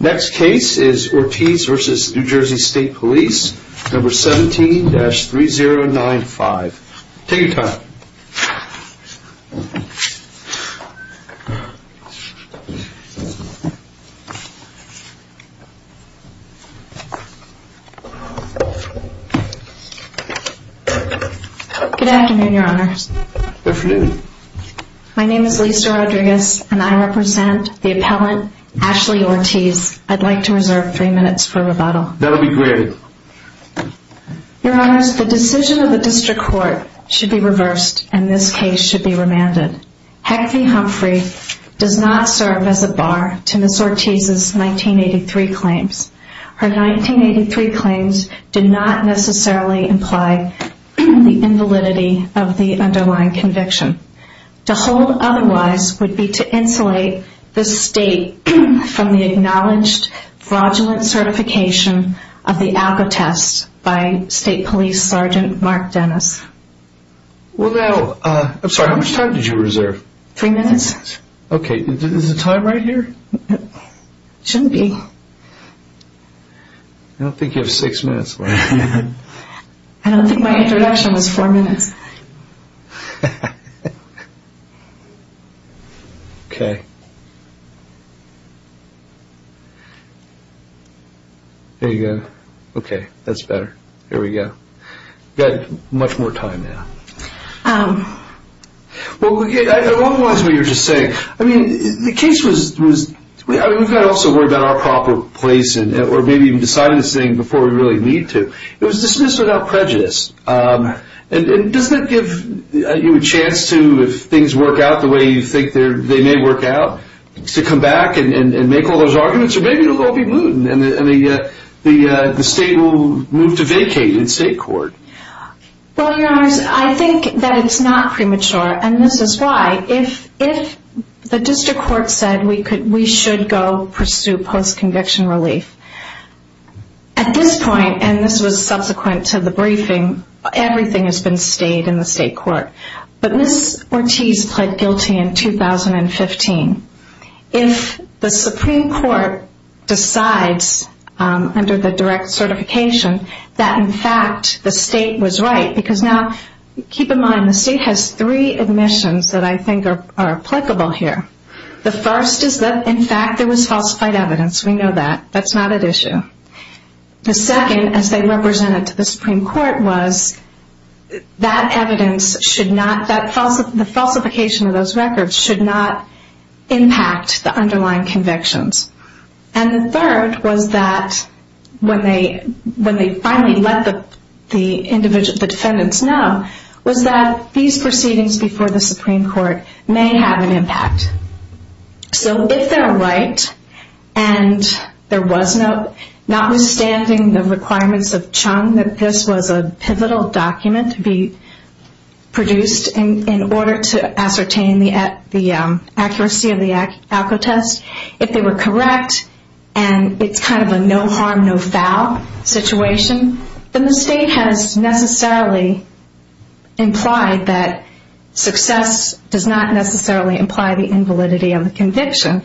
Next case is Ortiz v. NJ State Police, No. 17-3095. Take your time. Good afternoon, Your Honors. Good afternoon. My name is Lisa Rodriguez, and I represent the appellant, Ashley Ortiz. I'd like to reserve three minutes for rebuttal. That would be great. Your Honors, the decision of the District Court should be reversed, and this case should be remanded. Heffney-Humphrey does not serve as a bar to Ms. Ortiz's 1983 claims. Her 1983 claims do not necessarily imply the invalidity of the underlying conviction. To hold otherwise would be to insulate the State from the acknowledged fraudulent certification of the ALCO test by State Police Sgt. Mark Dennis. Well now, I'm sorry, how much time did you reserve? Three minutes. Okay, is the time right here? It shouldn't be. I don't think you have six minutes left. I don't think my introduction was four minutes. Okay. There you go. Okay, that's better. Here we go. You've got much more time now. Well, I love a lot of what you're just saying. I mean, the case was, we've got to also worry about our proper place, or maybe even decide this thing before we really need to. It was dismissed without prejudice. And doesn't that give you a chance to, if things work out the way you think they may work out, to come back and make all those arguments? Or maybe it'll all be moot, and the State will move to vacate in State Court. Well, Your Honors, I think that it's not premature, and this is why. If the District Court said we should go pursue post-conviction relief, at this point, and this was subsequent to the briefing, everything has been stayed in the State Court. But Ms. Ortiz pled guilty in 2015. If the Supreme Court decides under the direct certification that, in fact, the State was right, because now, keep in mind, the State has three admissions that I think are applicable here. The first is that, in fact, there was falsified evidence. We know that. That's not at issue. The second, as they represented to the Supreme Court, was that the falsification of those records should not impact the underlying convictions. And the third was that, when they finally let the defendants know, was that these proceedings before the Supreme Court may have an impact. So, if they're right, and there was no, notwithstanding the requirements of Chung that this was a pivotal document to be produced in order to ascertain the accuracy of the ALCO test, if they were correct, and it's kind of a no-harm, no-foul situation, then the State has necessarily implied that success does not necessarily imply the invalidity of the conviction.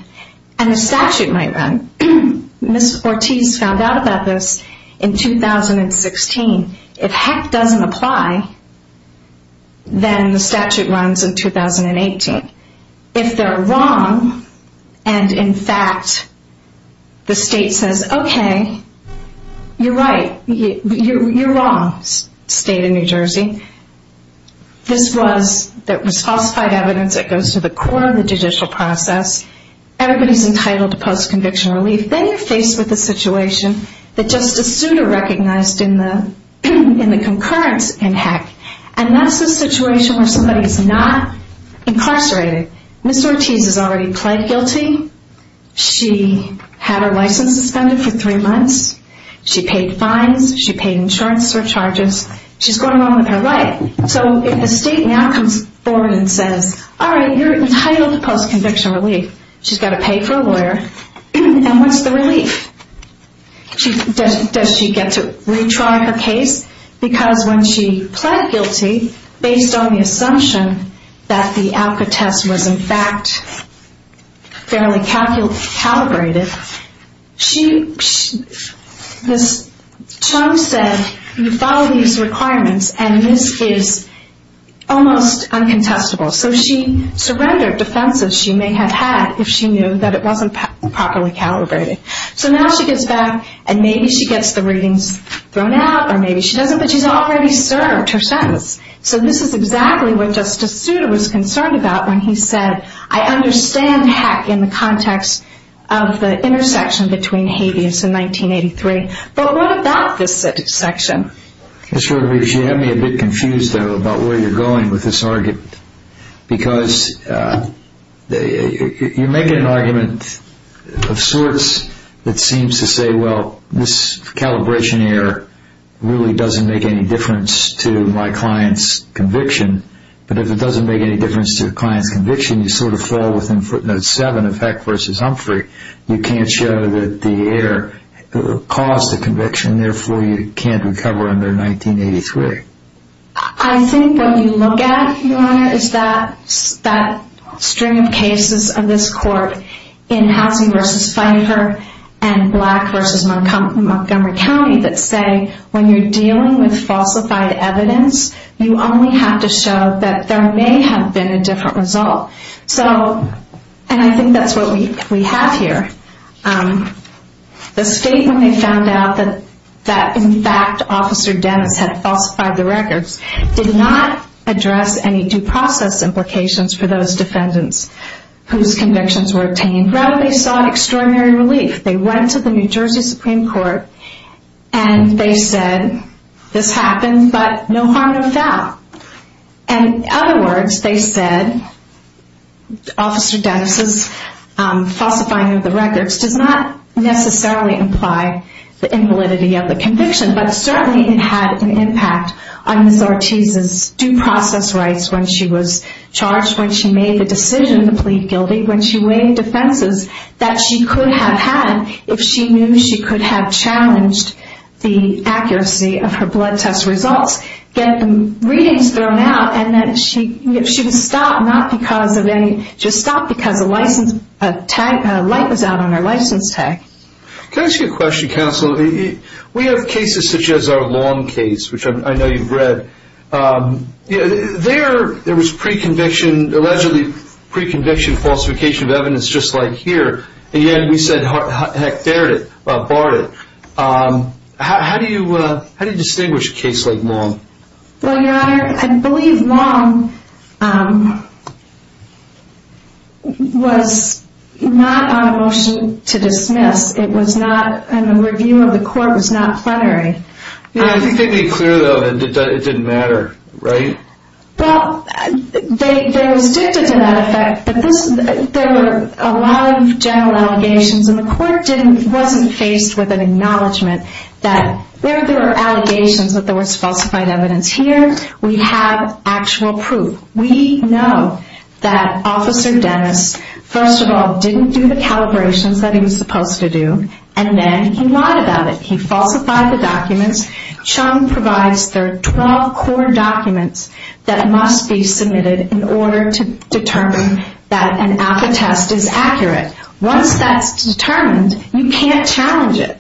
And the statute might run. Ms. Ortiz found out about this in 2016. If heck doesn't apply, then the statute runs in 2018. If they're wrong, and in fact, the State says, okay, you're right, you're wrong, State of New Jersey. This was, that was falsified evidence that goes to the core of the judicial process. Everybody's entitled to post-conviction relief. Then you're faced with a situation that Justice Souter recognized in the concurrence in heck. And that's a situation where somebody is not incarcerated. Ms. Ortiz has already pled guilty. She had her license suspended for three months. She paid fines. She paid insurance surcharges. She's going along with her life. So, if the State now comes forward and says, all right, you're entitled to post-conviction relief, she's got to pay for a lawyer, and what's the relief? Does she get to retry her case? Because when she pled guilty, based on the assumption that the ALCA test was, in fact, fairly calibrated, Trump said, you follow these requirements, and this is almost uncontestable. So she surrendered defenses she may have had if she knew that it wasn't properly calibrated. So now she gets back, and maybe she gets the readings thrown out, or maybe she doesn't, but she's already served her sentence. So this is exactly what Justice Souter was concerned about when he said, I understand heck in the context of the intersection between habeas and 1983, but what about this section? Mr. Rodriguez, you have me a bit confused, though, about where you're going with this argument. Because you're making an argument of sorts that seems to say, well, this calibration error really doesn't make any difference to my client's conviction. But if it doesn't make any difference to the client's conviction, you sort of fall within footnote seven of Heck v. Humphrey. You can't show that the error caused the conviction, therefore you can't recover under 1983. I think what you look at, Your Honor, is that string of cases of this court in Housley v. Pfeiffer and Black v. Montgomery County that say, when you're dealing with falsified evidence, you only have to show that there may have been a different result. And I think that's what we have here. The state, when they found out that, in fact, Officer Dennis had falsified the records, did not address any due process implications for those defendants whose convictions were obtained. Rather, they sought extraordinary relief. They went to the New Jersey Supreme Court and they said, this happened, but no harm no foul. In other words, they said, Officer Dennis' falsifying of the records does not necessarily imply the invalidity of the conviction, but certainly it had an impact on Ms. Ortiz's due process rights when she was charged, when she made the decision to plead guilty, when she waived defenses that she could have had if she knew she could have challenged the accuracy of her blood test results. Get the readings thrown out and that she was stopped, not because of any, just stopped because a light was out on her license tag. Can I ask you a question, Counsel? We have cases such as our Long case, which I know you've read. There was allegedly pre-conviction falsification of evidence just like here, and yet we said, heck, dared it, barred it. How do you distinguish a case like Long? Well, Your Honor, I believe Long was not on a motion to dismiss. It was not, and the review of the court was not plenary. I think they made clear, though, that it didn't matter, right? Well, they were restricted to that effect. There were a lot of general allegations, and the court wasn't faced with an acknowledgement that there were allegations that there was falsified evidence. Here, we have actual proof. We know that Officer Dennis, first of all, didn't do the calibrations that he was supposed to do, and then he lied about it. He falsified the documents. Chung provides their 12 core documents that must be submitted in order to determine that an alpha test is accurate. Once that's determined, you can't challenge it,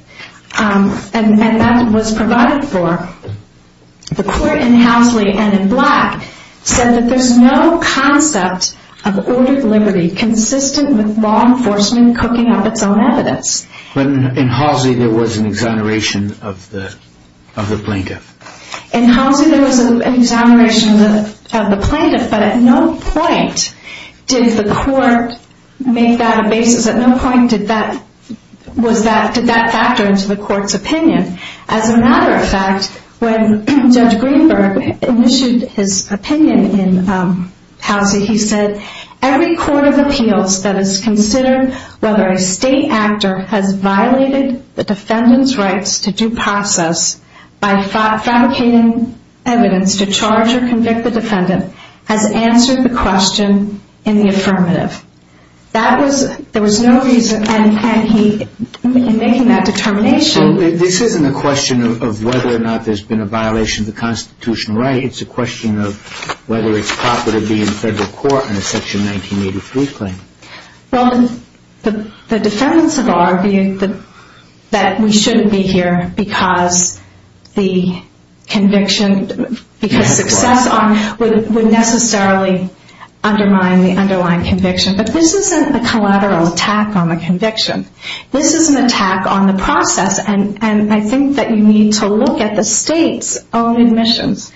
and that was provided for. The court in Housley and in Black said that there's no concept of ordered liberty consistent with law enforcement cooking up its own evidence. But in Housley, there was an exoneration of the plaintiff. In Housley, there was an exoneration of the plaintiff, but at no point did the court make that a basis. At no point did that factor into the court's opinion. As a matter of fact, when Judge Greenberg issued his opinion in Housley, he said, every court of appeals that has considered whether a state actor has violated the defendant's rights to due process by fabricating evidence to charge or convict the defendant has answered the question in the affirmative. There was no reason, and he, in making that determination... This isn't a question of whether or not there's been a violation of the constitutional right. It's a question of whether it's proper to be in federal court on a Section 1983 claim. Well, the defendants have argued that we shouldn't be here because the conviction, because success would necessarily undermine the underlying conviction. But this isn't a collateral attack on the conviction. This is an attack on the process, and I think that you need to look at the state's own admissions.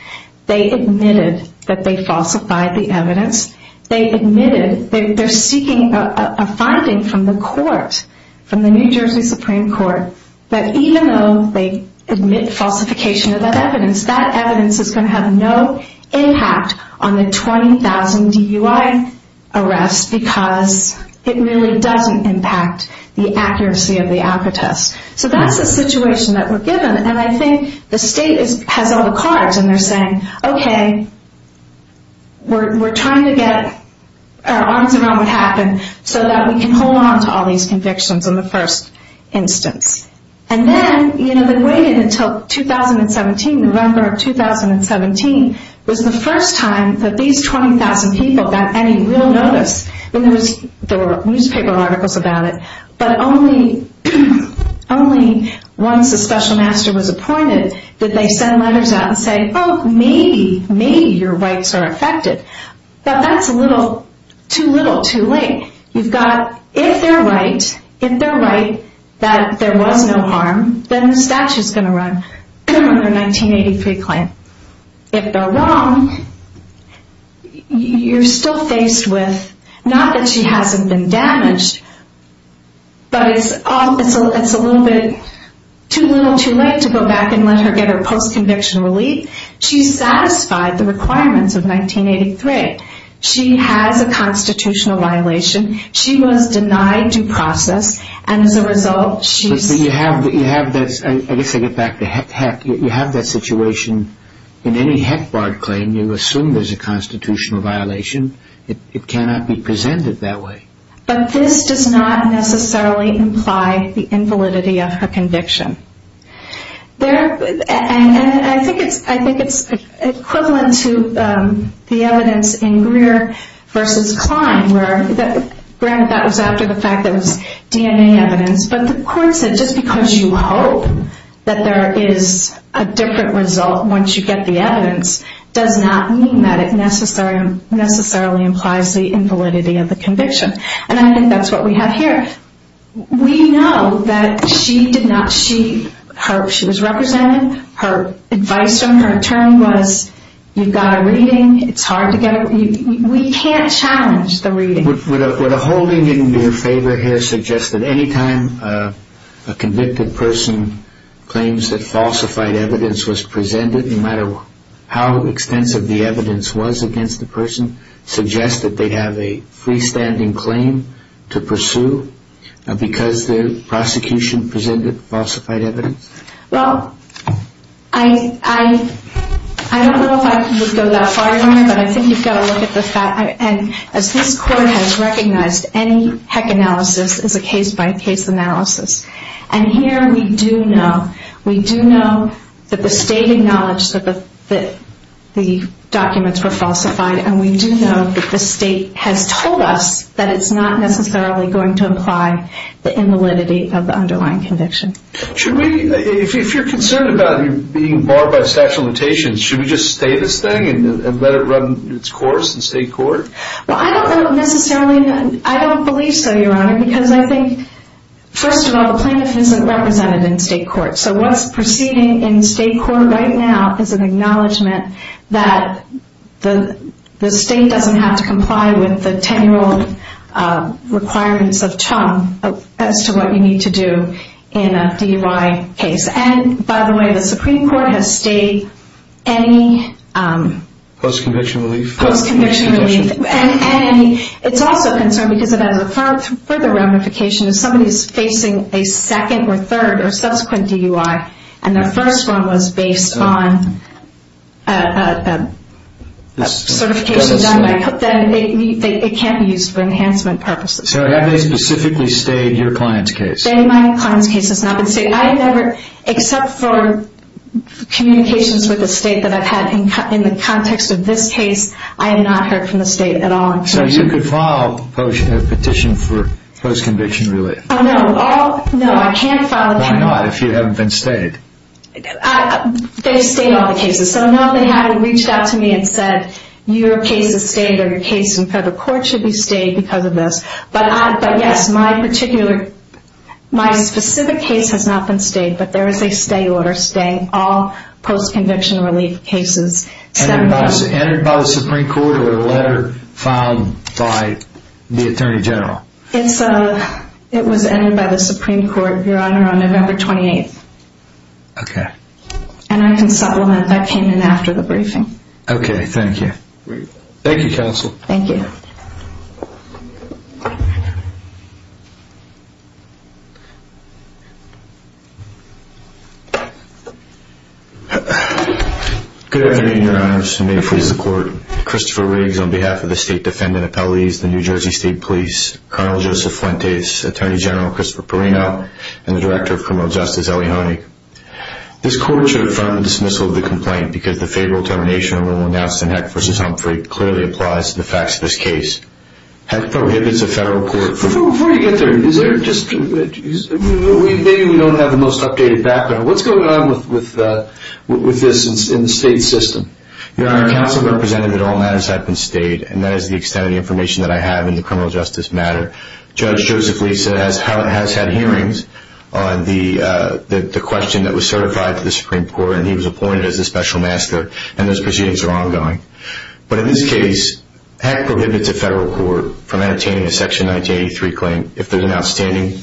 They admitted that they falsified the evidence. They admitted that they're seeking a finding from the court, from the New Jersey Supreme Court, that even though they admit falsification of that evidence, that evidence is going to have no impact on the 20,000 DUI arrest because it really doesn't impact the accuracy of the ALCA test. So that's the situation that we're given, and I think the state has all the cards, and they're saying, okay, we're trying to get our arms around what happened so that we can hold on to all these convictions in the first instance. And then, you know, they waited until 2017, November of 2017, was the first time that these 20,000 people got any real notice. There were newspaper articles about it, but only once a special master was appointed did they send letters out and say, oh, maybe, maybe your rights are affected. But that's a little too little too late. You've got, if they're right, if they're right that there was no harm, then the statute's going to run under 1983 claim. If they're wrong, you're still faced with, not that she hasn't been damaged, but it's a little bit too little too late to go back and let her get her post-conviction relief. She's satisfied the requirements of 1983. She has a constitutional violation. She was denied due process, and as a result, she's... But you have that, I guess I get back to heck, you have that situation. In any heck barred claim, you assume there's a constitutional violation. It cannot be presented that way. But this does not necessarily imply the invalidity of her conviction. And I think it's equivalent to the evidence in Greer v. Klein where, granted that was after the fact that it was DNA evidence, but the court said just because you hope that there is a different result once you get the evidence does not mean that it necessarily implies the invalidity of the conviction. And I think that's what we have here. We know that she did not... She was represented. Her advice from her attorney was you've got a reading. It's hard to get a... We can't challenge the reading. Would a holding in your favor here suggest that any time a convicted person claims that falsified evidence was presented, no matter how extensive the evidence was against the person, suggest that they have a freestanding claim to pursue because the prosecution presented falsified evidence? Well, I don't know if I could go that far on it, but I think you've got to look at the fact... And as this court has recognized, any heck analysis is a case-by-case analysis. And here we do know. We do know that the state acknowledged that the documents were falsified, and we do know that the state has told us that it's not necessarily going to imply the invalidity of the underlying conviction. Should we... If you're concerned about being barred by a statute of limitations, should we just stay this thing and let it run its course in state court? Well, I don't necessarily... I don't believe so, Your Honor, because I think, first of all, the plaintiff isn't represented in state court. So what's proceeding in state court right now is an acknowledgment that the state doesn't have to comply with the 10-year-old requirements of CHUM as to what you need to do in a DUI case. And, by the way, the Supreme Court has stayed any... Post-conviction relief? Post-conviction relief. And it's also a concern because it has a further ramification. If somebody is facing a second or third or subsequent DUI, and their first one was based on a certification document, then it can't be used for enhancement purposes. So have they specifically stayed your client's case? They might. My client's case has not been stayed. I never, except for communications with the state that I've had in the context of this case, I have not heard from the state at all. So you could file a petition for post-conviction relief? Oh, no. No, I can't file a petition. Why not, if you haven't been stayed? They've stayed all the cases. So, no, they haven't reached out to me and said, your case is stayed or your case in federal court should be stayed because of this. But, yes, my particular... My specific case has not been stayed, but there is a stay order. Stay all post-conviction relief cases. Entered by the Supreme Court or a letter filed by the Attorney General? It was entered by the Supreme Court, Your Honor, on November 28th. Okay. And I can supplement that came in after the briefing. Okay, thank you. Thank you, counsel. Thank you. Thank you. Good afternoon, Your Honors, and may it please the Court. Christopher Riggs on behalf of the State Defendant Appellees, the New Jersey State Police, Colonel Joseph Fuentes, Attorney General Christopher Perrino, and the Director of Criminal Justice Ellie Honig. This Court should affirm the dismissal of the complaint because the favorable termination when announced in Heck v. Humphrey clearly applies to the facts of this case. Heck prohibits a federal court from... Before you get there, is there just... Maybe we don't have the most updated background. What's going on with this in the state system? Your Honor, counsel represented that all matters have been stayed, and that is the extent of the information that I have in the criminal justice matter. Judge Joseph Lee has had hearings on the question that was certified to the Supreme Court, and he was appointed as a special master, and those proceedings are ongoing. But in this case, Heck prohibits a federal court from entertaining a Section 1983 claim if there's an outstanding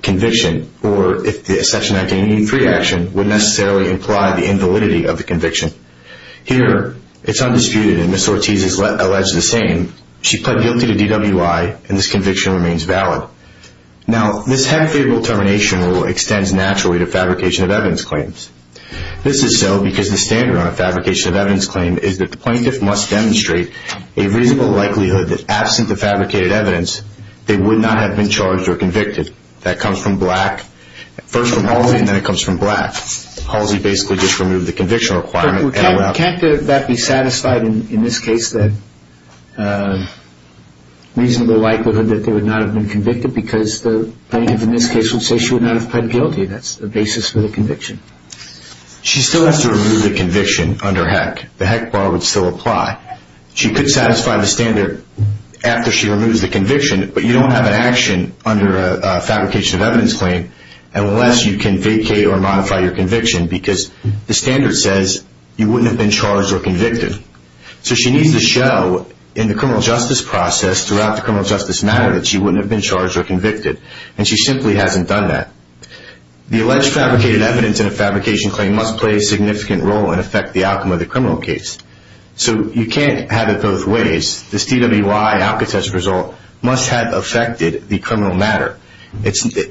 conviction, or if the Section 1983 action would necessarily imply the invalidity of the conviction. Here, it's undisputed, and Ms. Ortiz has alleged the same. She pled guilty to DWI, and this conviction remains valid. Now, this Heck favorable termination rule extends naturally to fabrication of evidence claims. This is so because the standard on a fabrication of evidence claim is that the plaintiff must demonstrate a reasonable likelihood that, absent the fabricated evidence, they would not have been charged or convicted. That comes from Black. First from Halsey, and then it comes from Black. Halsey basically just removed the conviction requirement. Can't that be satisfied in this case, that reasonable likelihood that they would not have been convicted? Because the plaintiff in this case would say she would not have pled guilty. That's the basis for the conviction. She still has to remove the conviction under Heck. The Heck bar would still apply. She could satisfy the standard after she removes the conviction, but you don't have an action under a fabrication of evidence claim unless you can vacate or modify your conviction, because the standard says you wouldn't have been charged or convicted. So she needs to show in the criminal justice process, throughout the criminal justice matter, that she wouldn't have been charged or convicted, and she simply hasn't done that. The alleged fabricated evidence in a fabrication claim must play a significant role and affect the outcome of the criminal case. So you can't have it both ways. This DWI outcome test result must have affected the criminal matter.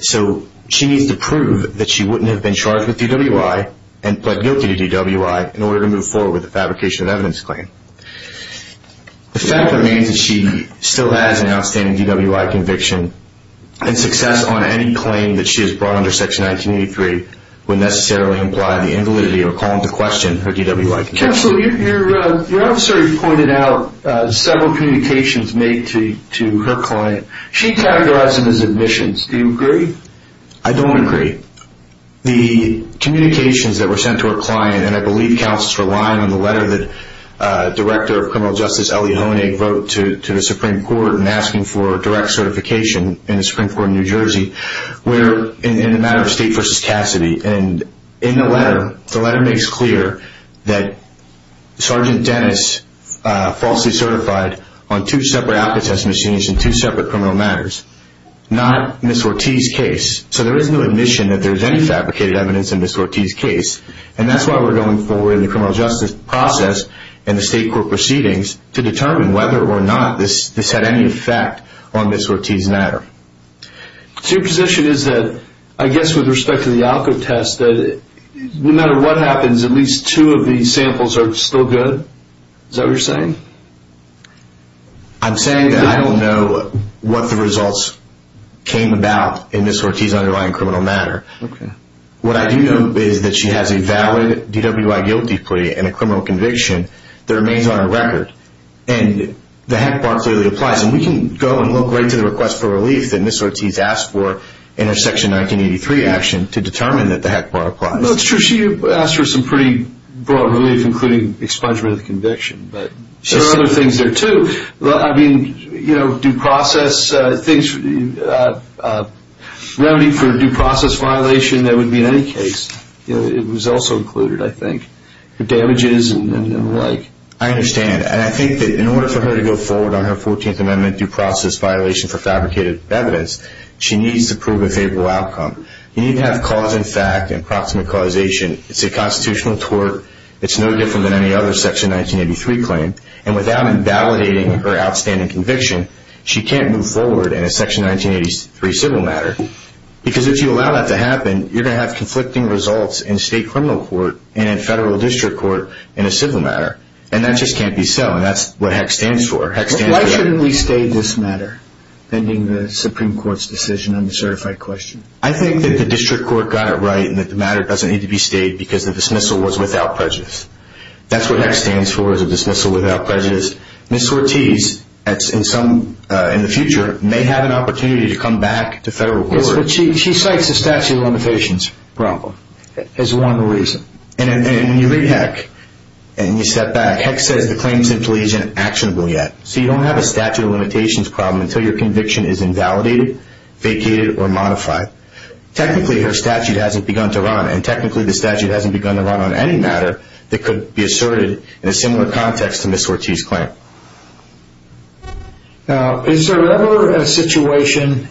So she needs to prove that she wouldn't have been charged with DWI and pled guilty to DWI in order to move forward with the fabrication of evidence claim. The fact remains that she still has an outstanding DWI conviction, and success on any claim that she has brought under Section 1983 would necessarily imply the invalidity or call into question her DWI conviction. Counsel, your officer pointed out several communications made to her client. She categorized them as admissions. Do you agree? I don't agree. The communications that were sent to her client, and I believe Counsel is relying on the letter that Director of Criminal Justice Elie Honig wrote to the Supreme Court in asking for direct certification in the Supreme Court of New Jersey, were in the matter of State v. Cassidy. And in the letter, the letter makes clear that Sergeant Dennis falsely certified on two separate outcome test machines in two separate criminal matters, not Ms. Ortiz's case. So there is no admission that there is any fabricated evidence in Ms. Ortiz's case. And that's why we're going forward in the criminal justice process and the State court proceedings to determine whether or not this had any effect on Ms. Ortiz's matter. So your position is that, I guess with respect to the outcome test, that no matter what happens, at least two of these samples are still good? Is that what you're saying? I'm saying that I don't know what the results came about in Ms. Ortiz's underlying criminal matter. What I do know is that she has a valid DWI guilty plea and a criminal conviction that remains on her record. And the heck bar clearly applies. And we can go and look right to the request for relief that Ms. Ortiz asked for in her Section 1983 action to determine that the heck bar applies. No, it's true. She asked for some pretty broad relief, including expungement of the conviction. But there are other things there, too. I mean, remedy for due process violation that would be in any case. It was also included, I think, the damages and the like. I understand. And I think that in order for her to go forward on her 14th Amendment due process violation for fabricated evidence, she needs to prove a favorable outcome. You need to have cause and fact and approximate causation. It's a constitutional tort. It's no different than any other Section 1983 claim. And without invalidating her outstanding conviction, she can't move forward in a Section 1983 civil matter. Because if you allow that to happen, you're going to have conflicting results in state criminal court and in federal district court in a civil matter. And that just can't be so. And that's what heck stands for. Why shouldn't we stay this matter, pending the Supreme Court's decision on the certified question? I think that the district court got it right and that the matter doesn't need to be stayed because the dismissal was without prejudice. That's what heck stands for is a dismissal without prejudice. Ms. Ortiz, in the future, may have an opportunity to come back to federal court. Yes, but she cites the statute of limitations problem as one reason. And when you read heck and you step back, heck says the claim simply isn't actionable yet. So you don't have a statute of limitations problem until your conviction is invalidated, vacated, or modified. Technically, her statute hasn't begun to run. And technically, the statute hasn't begun to run on any matter that could be asserted in a similar context to Ms. Ortiz's claim. Now, is there ever a situation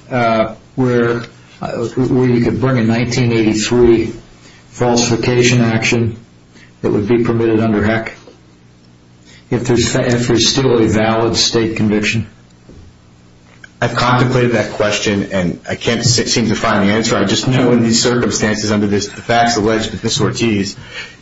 where we could bring in 1983 falsification action that would be permitted under heck if there's still a valid state conviction? I've contemplated that question and I can't seem to find the answer. I just know in these circumstances under the facts alleged by Ms. Ortiz,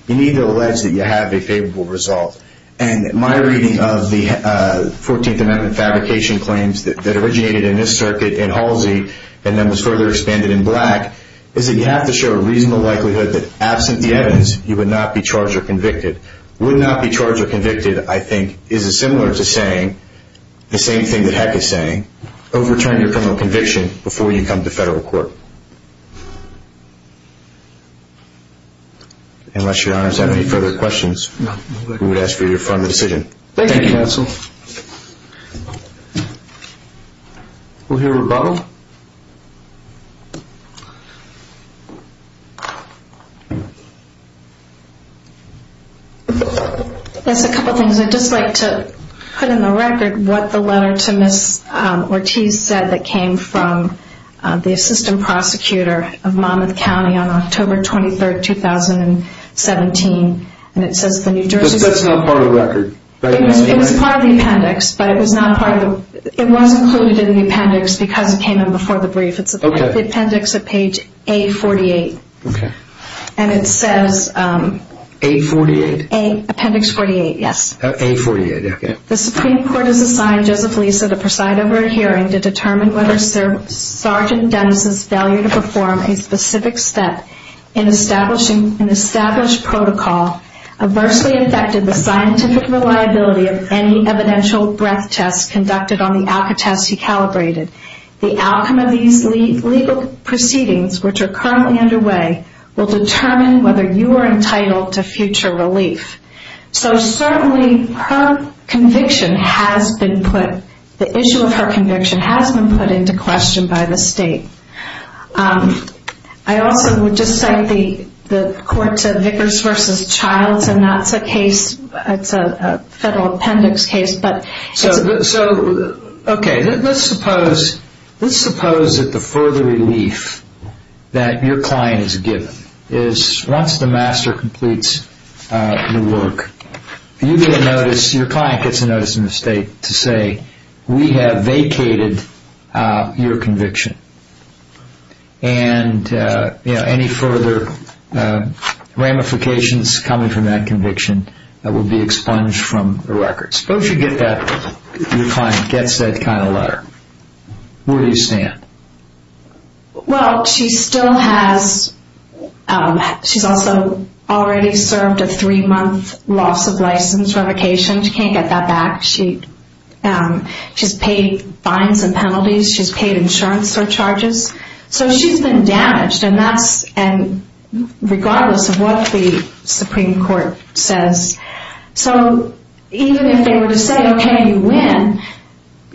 you need to allege that you have a favorable result. And my reading of the 14th Amendment fabrication claims that originated in this circuit in Halsey and then was further expanded in Black is that you have to show a reasonable likelihood that absent the evidence, you would not be charged or convicted. Would not be charged or convicted, I think, is similar to saying the same thing that heck is saying, overturn your criminal conviction before you come to federal court. Unless your honors have any further questions, we would ask for your final decision. Thank you, counsel. We'll hear rebuttal. Just a couple of things. I'd just like to put in the record what the letter to Ms. Ortiz said that came from the assistant prosecutor of Monmouth County on October 23, 2017. And it says the New Jersey... But that's not part of the record. It was part of the appendix, but it was not part of the... It was included in the appendix because it came in before the brief. It's the appendix at page A48. Okay. And it says... A48? Appendix 48, yes. A48, okay. The Supreme Court has assigned Joseph Lisa to preside over a hearing to determine whether Sergeant Dennis's failure to perform a specific step in establishing an established protocol adversely affected the scientific reliability of any evidential breath tests conducted on the ALCA tests he calibrated. The outcome of these legal proceedings, which are currently underway, will determine whether you are entitled to future relief. So certainly her conviction has been put... The issue of her conviction has been put into question by the state. I also would just cite the courts of Vickers v. Childs, and that's a case... It's a federal appendix case, but... So, okay. Let's suppose that the further relief that your client is given is once the master completes the work, you get a notice, your client gets a notice from the state to say, we have vacated your conviction. And any further ramifications coming from that conviction will be expunged from the record. Suppose your client gets that kind of letter. Where do you stand? Well, she still has... She's also already served a three-month loss of license revocation. She can't get that back. She's paid fines and penalties. She's paid insurance surcharges. So she's been damaged, and that's... Regardless of what the Supreme Court says. So even if they were to say, okay, you win,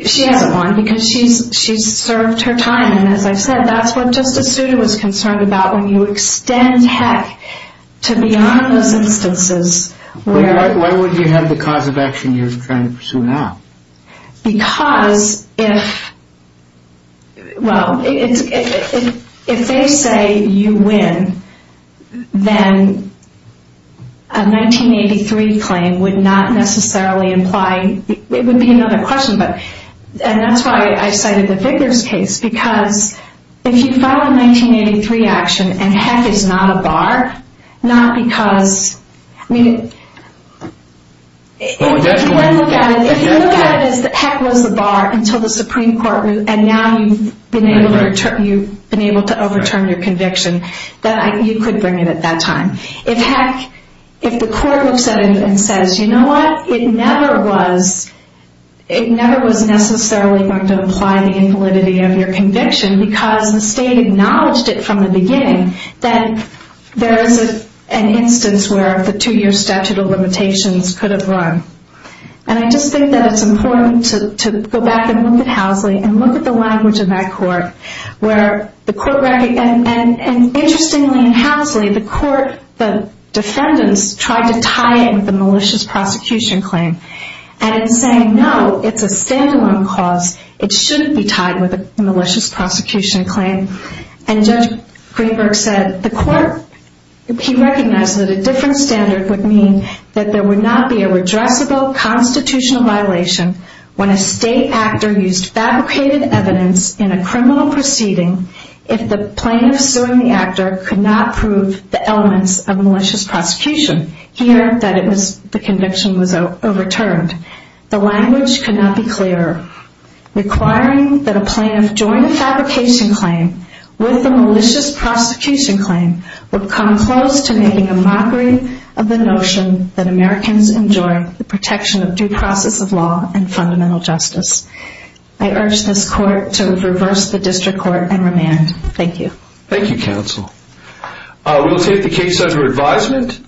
she hasn't won because she's served her time. And as I said, that's what Justice Souter was concerned about. When you extend, heck, to beyond those instances... Why would you have the cause of action you're trying to pursue now? Because if... Well, if they say you win, then a 1983 claim would not necessarily imply... It would be another question, but... And that's why I cited the Vickers case. Because if you file a 1983 action, and heck, it's not a bar, not because... If you look at it as, heck, it was a bar until the Supreme Court... And now you've been able to overturn your conviction. You could bring it at that time. If, heck, if the court looks at it and says, you know what? It never was... It never was necessarily going to imply the invalidity of your conviction because the state acknowledged it from the beginning that there is an instance where the two-year statute of limitations could have run. And I just think that it's important to go back and look at Housley and look at the language of that court where the court... And interestingly in Housley, the court... The defendants tried to tie it with a malicious prosecution claim. And in saying, no, it's a standalone cause. It shouldn't be tied with a malicious prosecution claim. And Judge Greenberg said, the court... He recognized that a different standard would mean that there would not be a redressable constitutional violation when a state actor used fabricated evidence in a criminal proceeding if the plaintiff suing the actor could not prove the elements of a malicious prosecution. Here, the conviction was overturned. The language could not be clearer. Requiring that a plaintiff join a fabrication claim with a malicious prosecution claim would come close to making a mockery of the notion that Americans enjoy the protection of due process of law and fundamental justice. I urge this court to reverse the district court and remand. Thank you. Thank you, counsel. We'll take the case under advisement.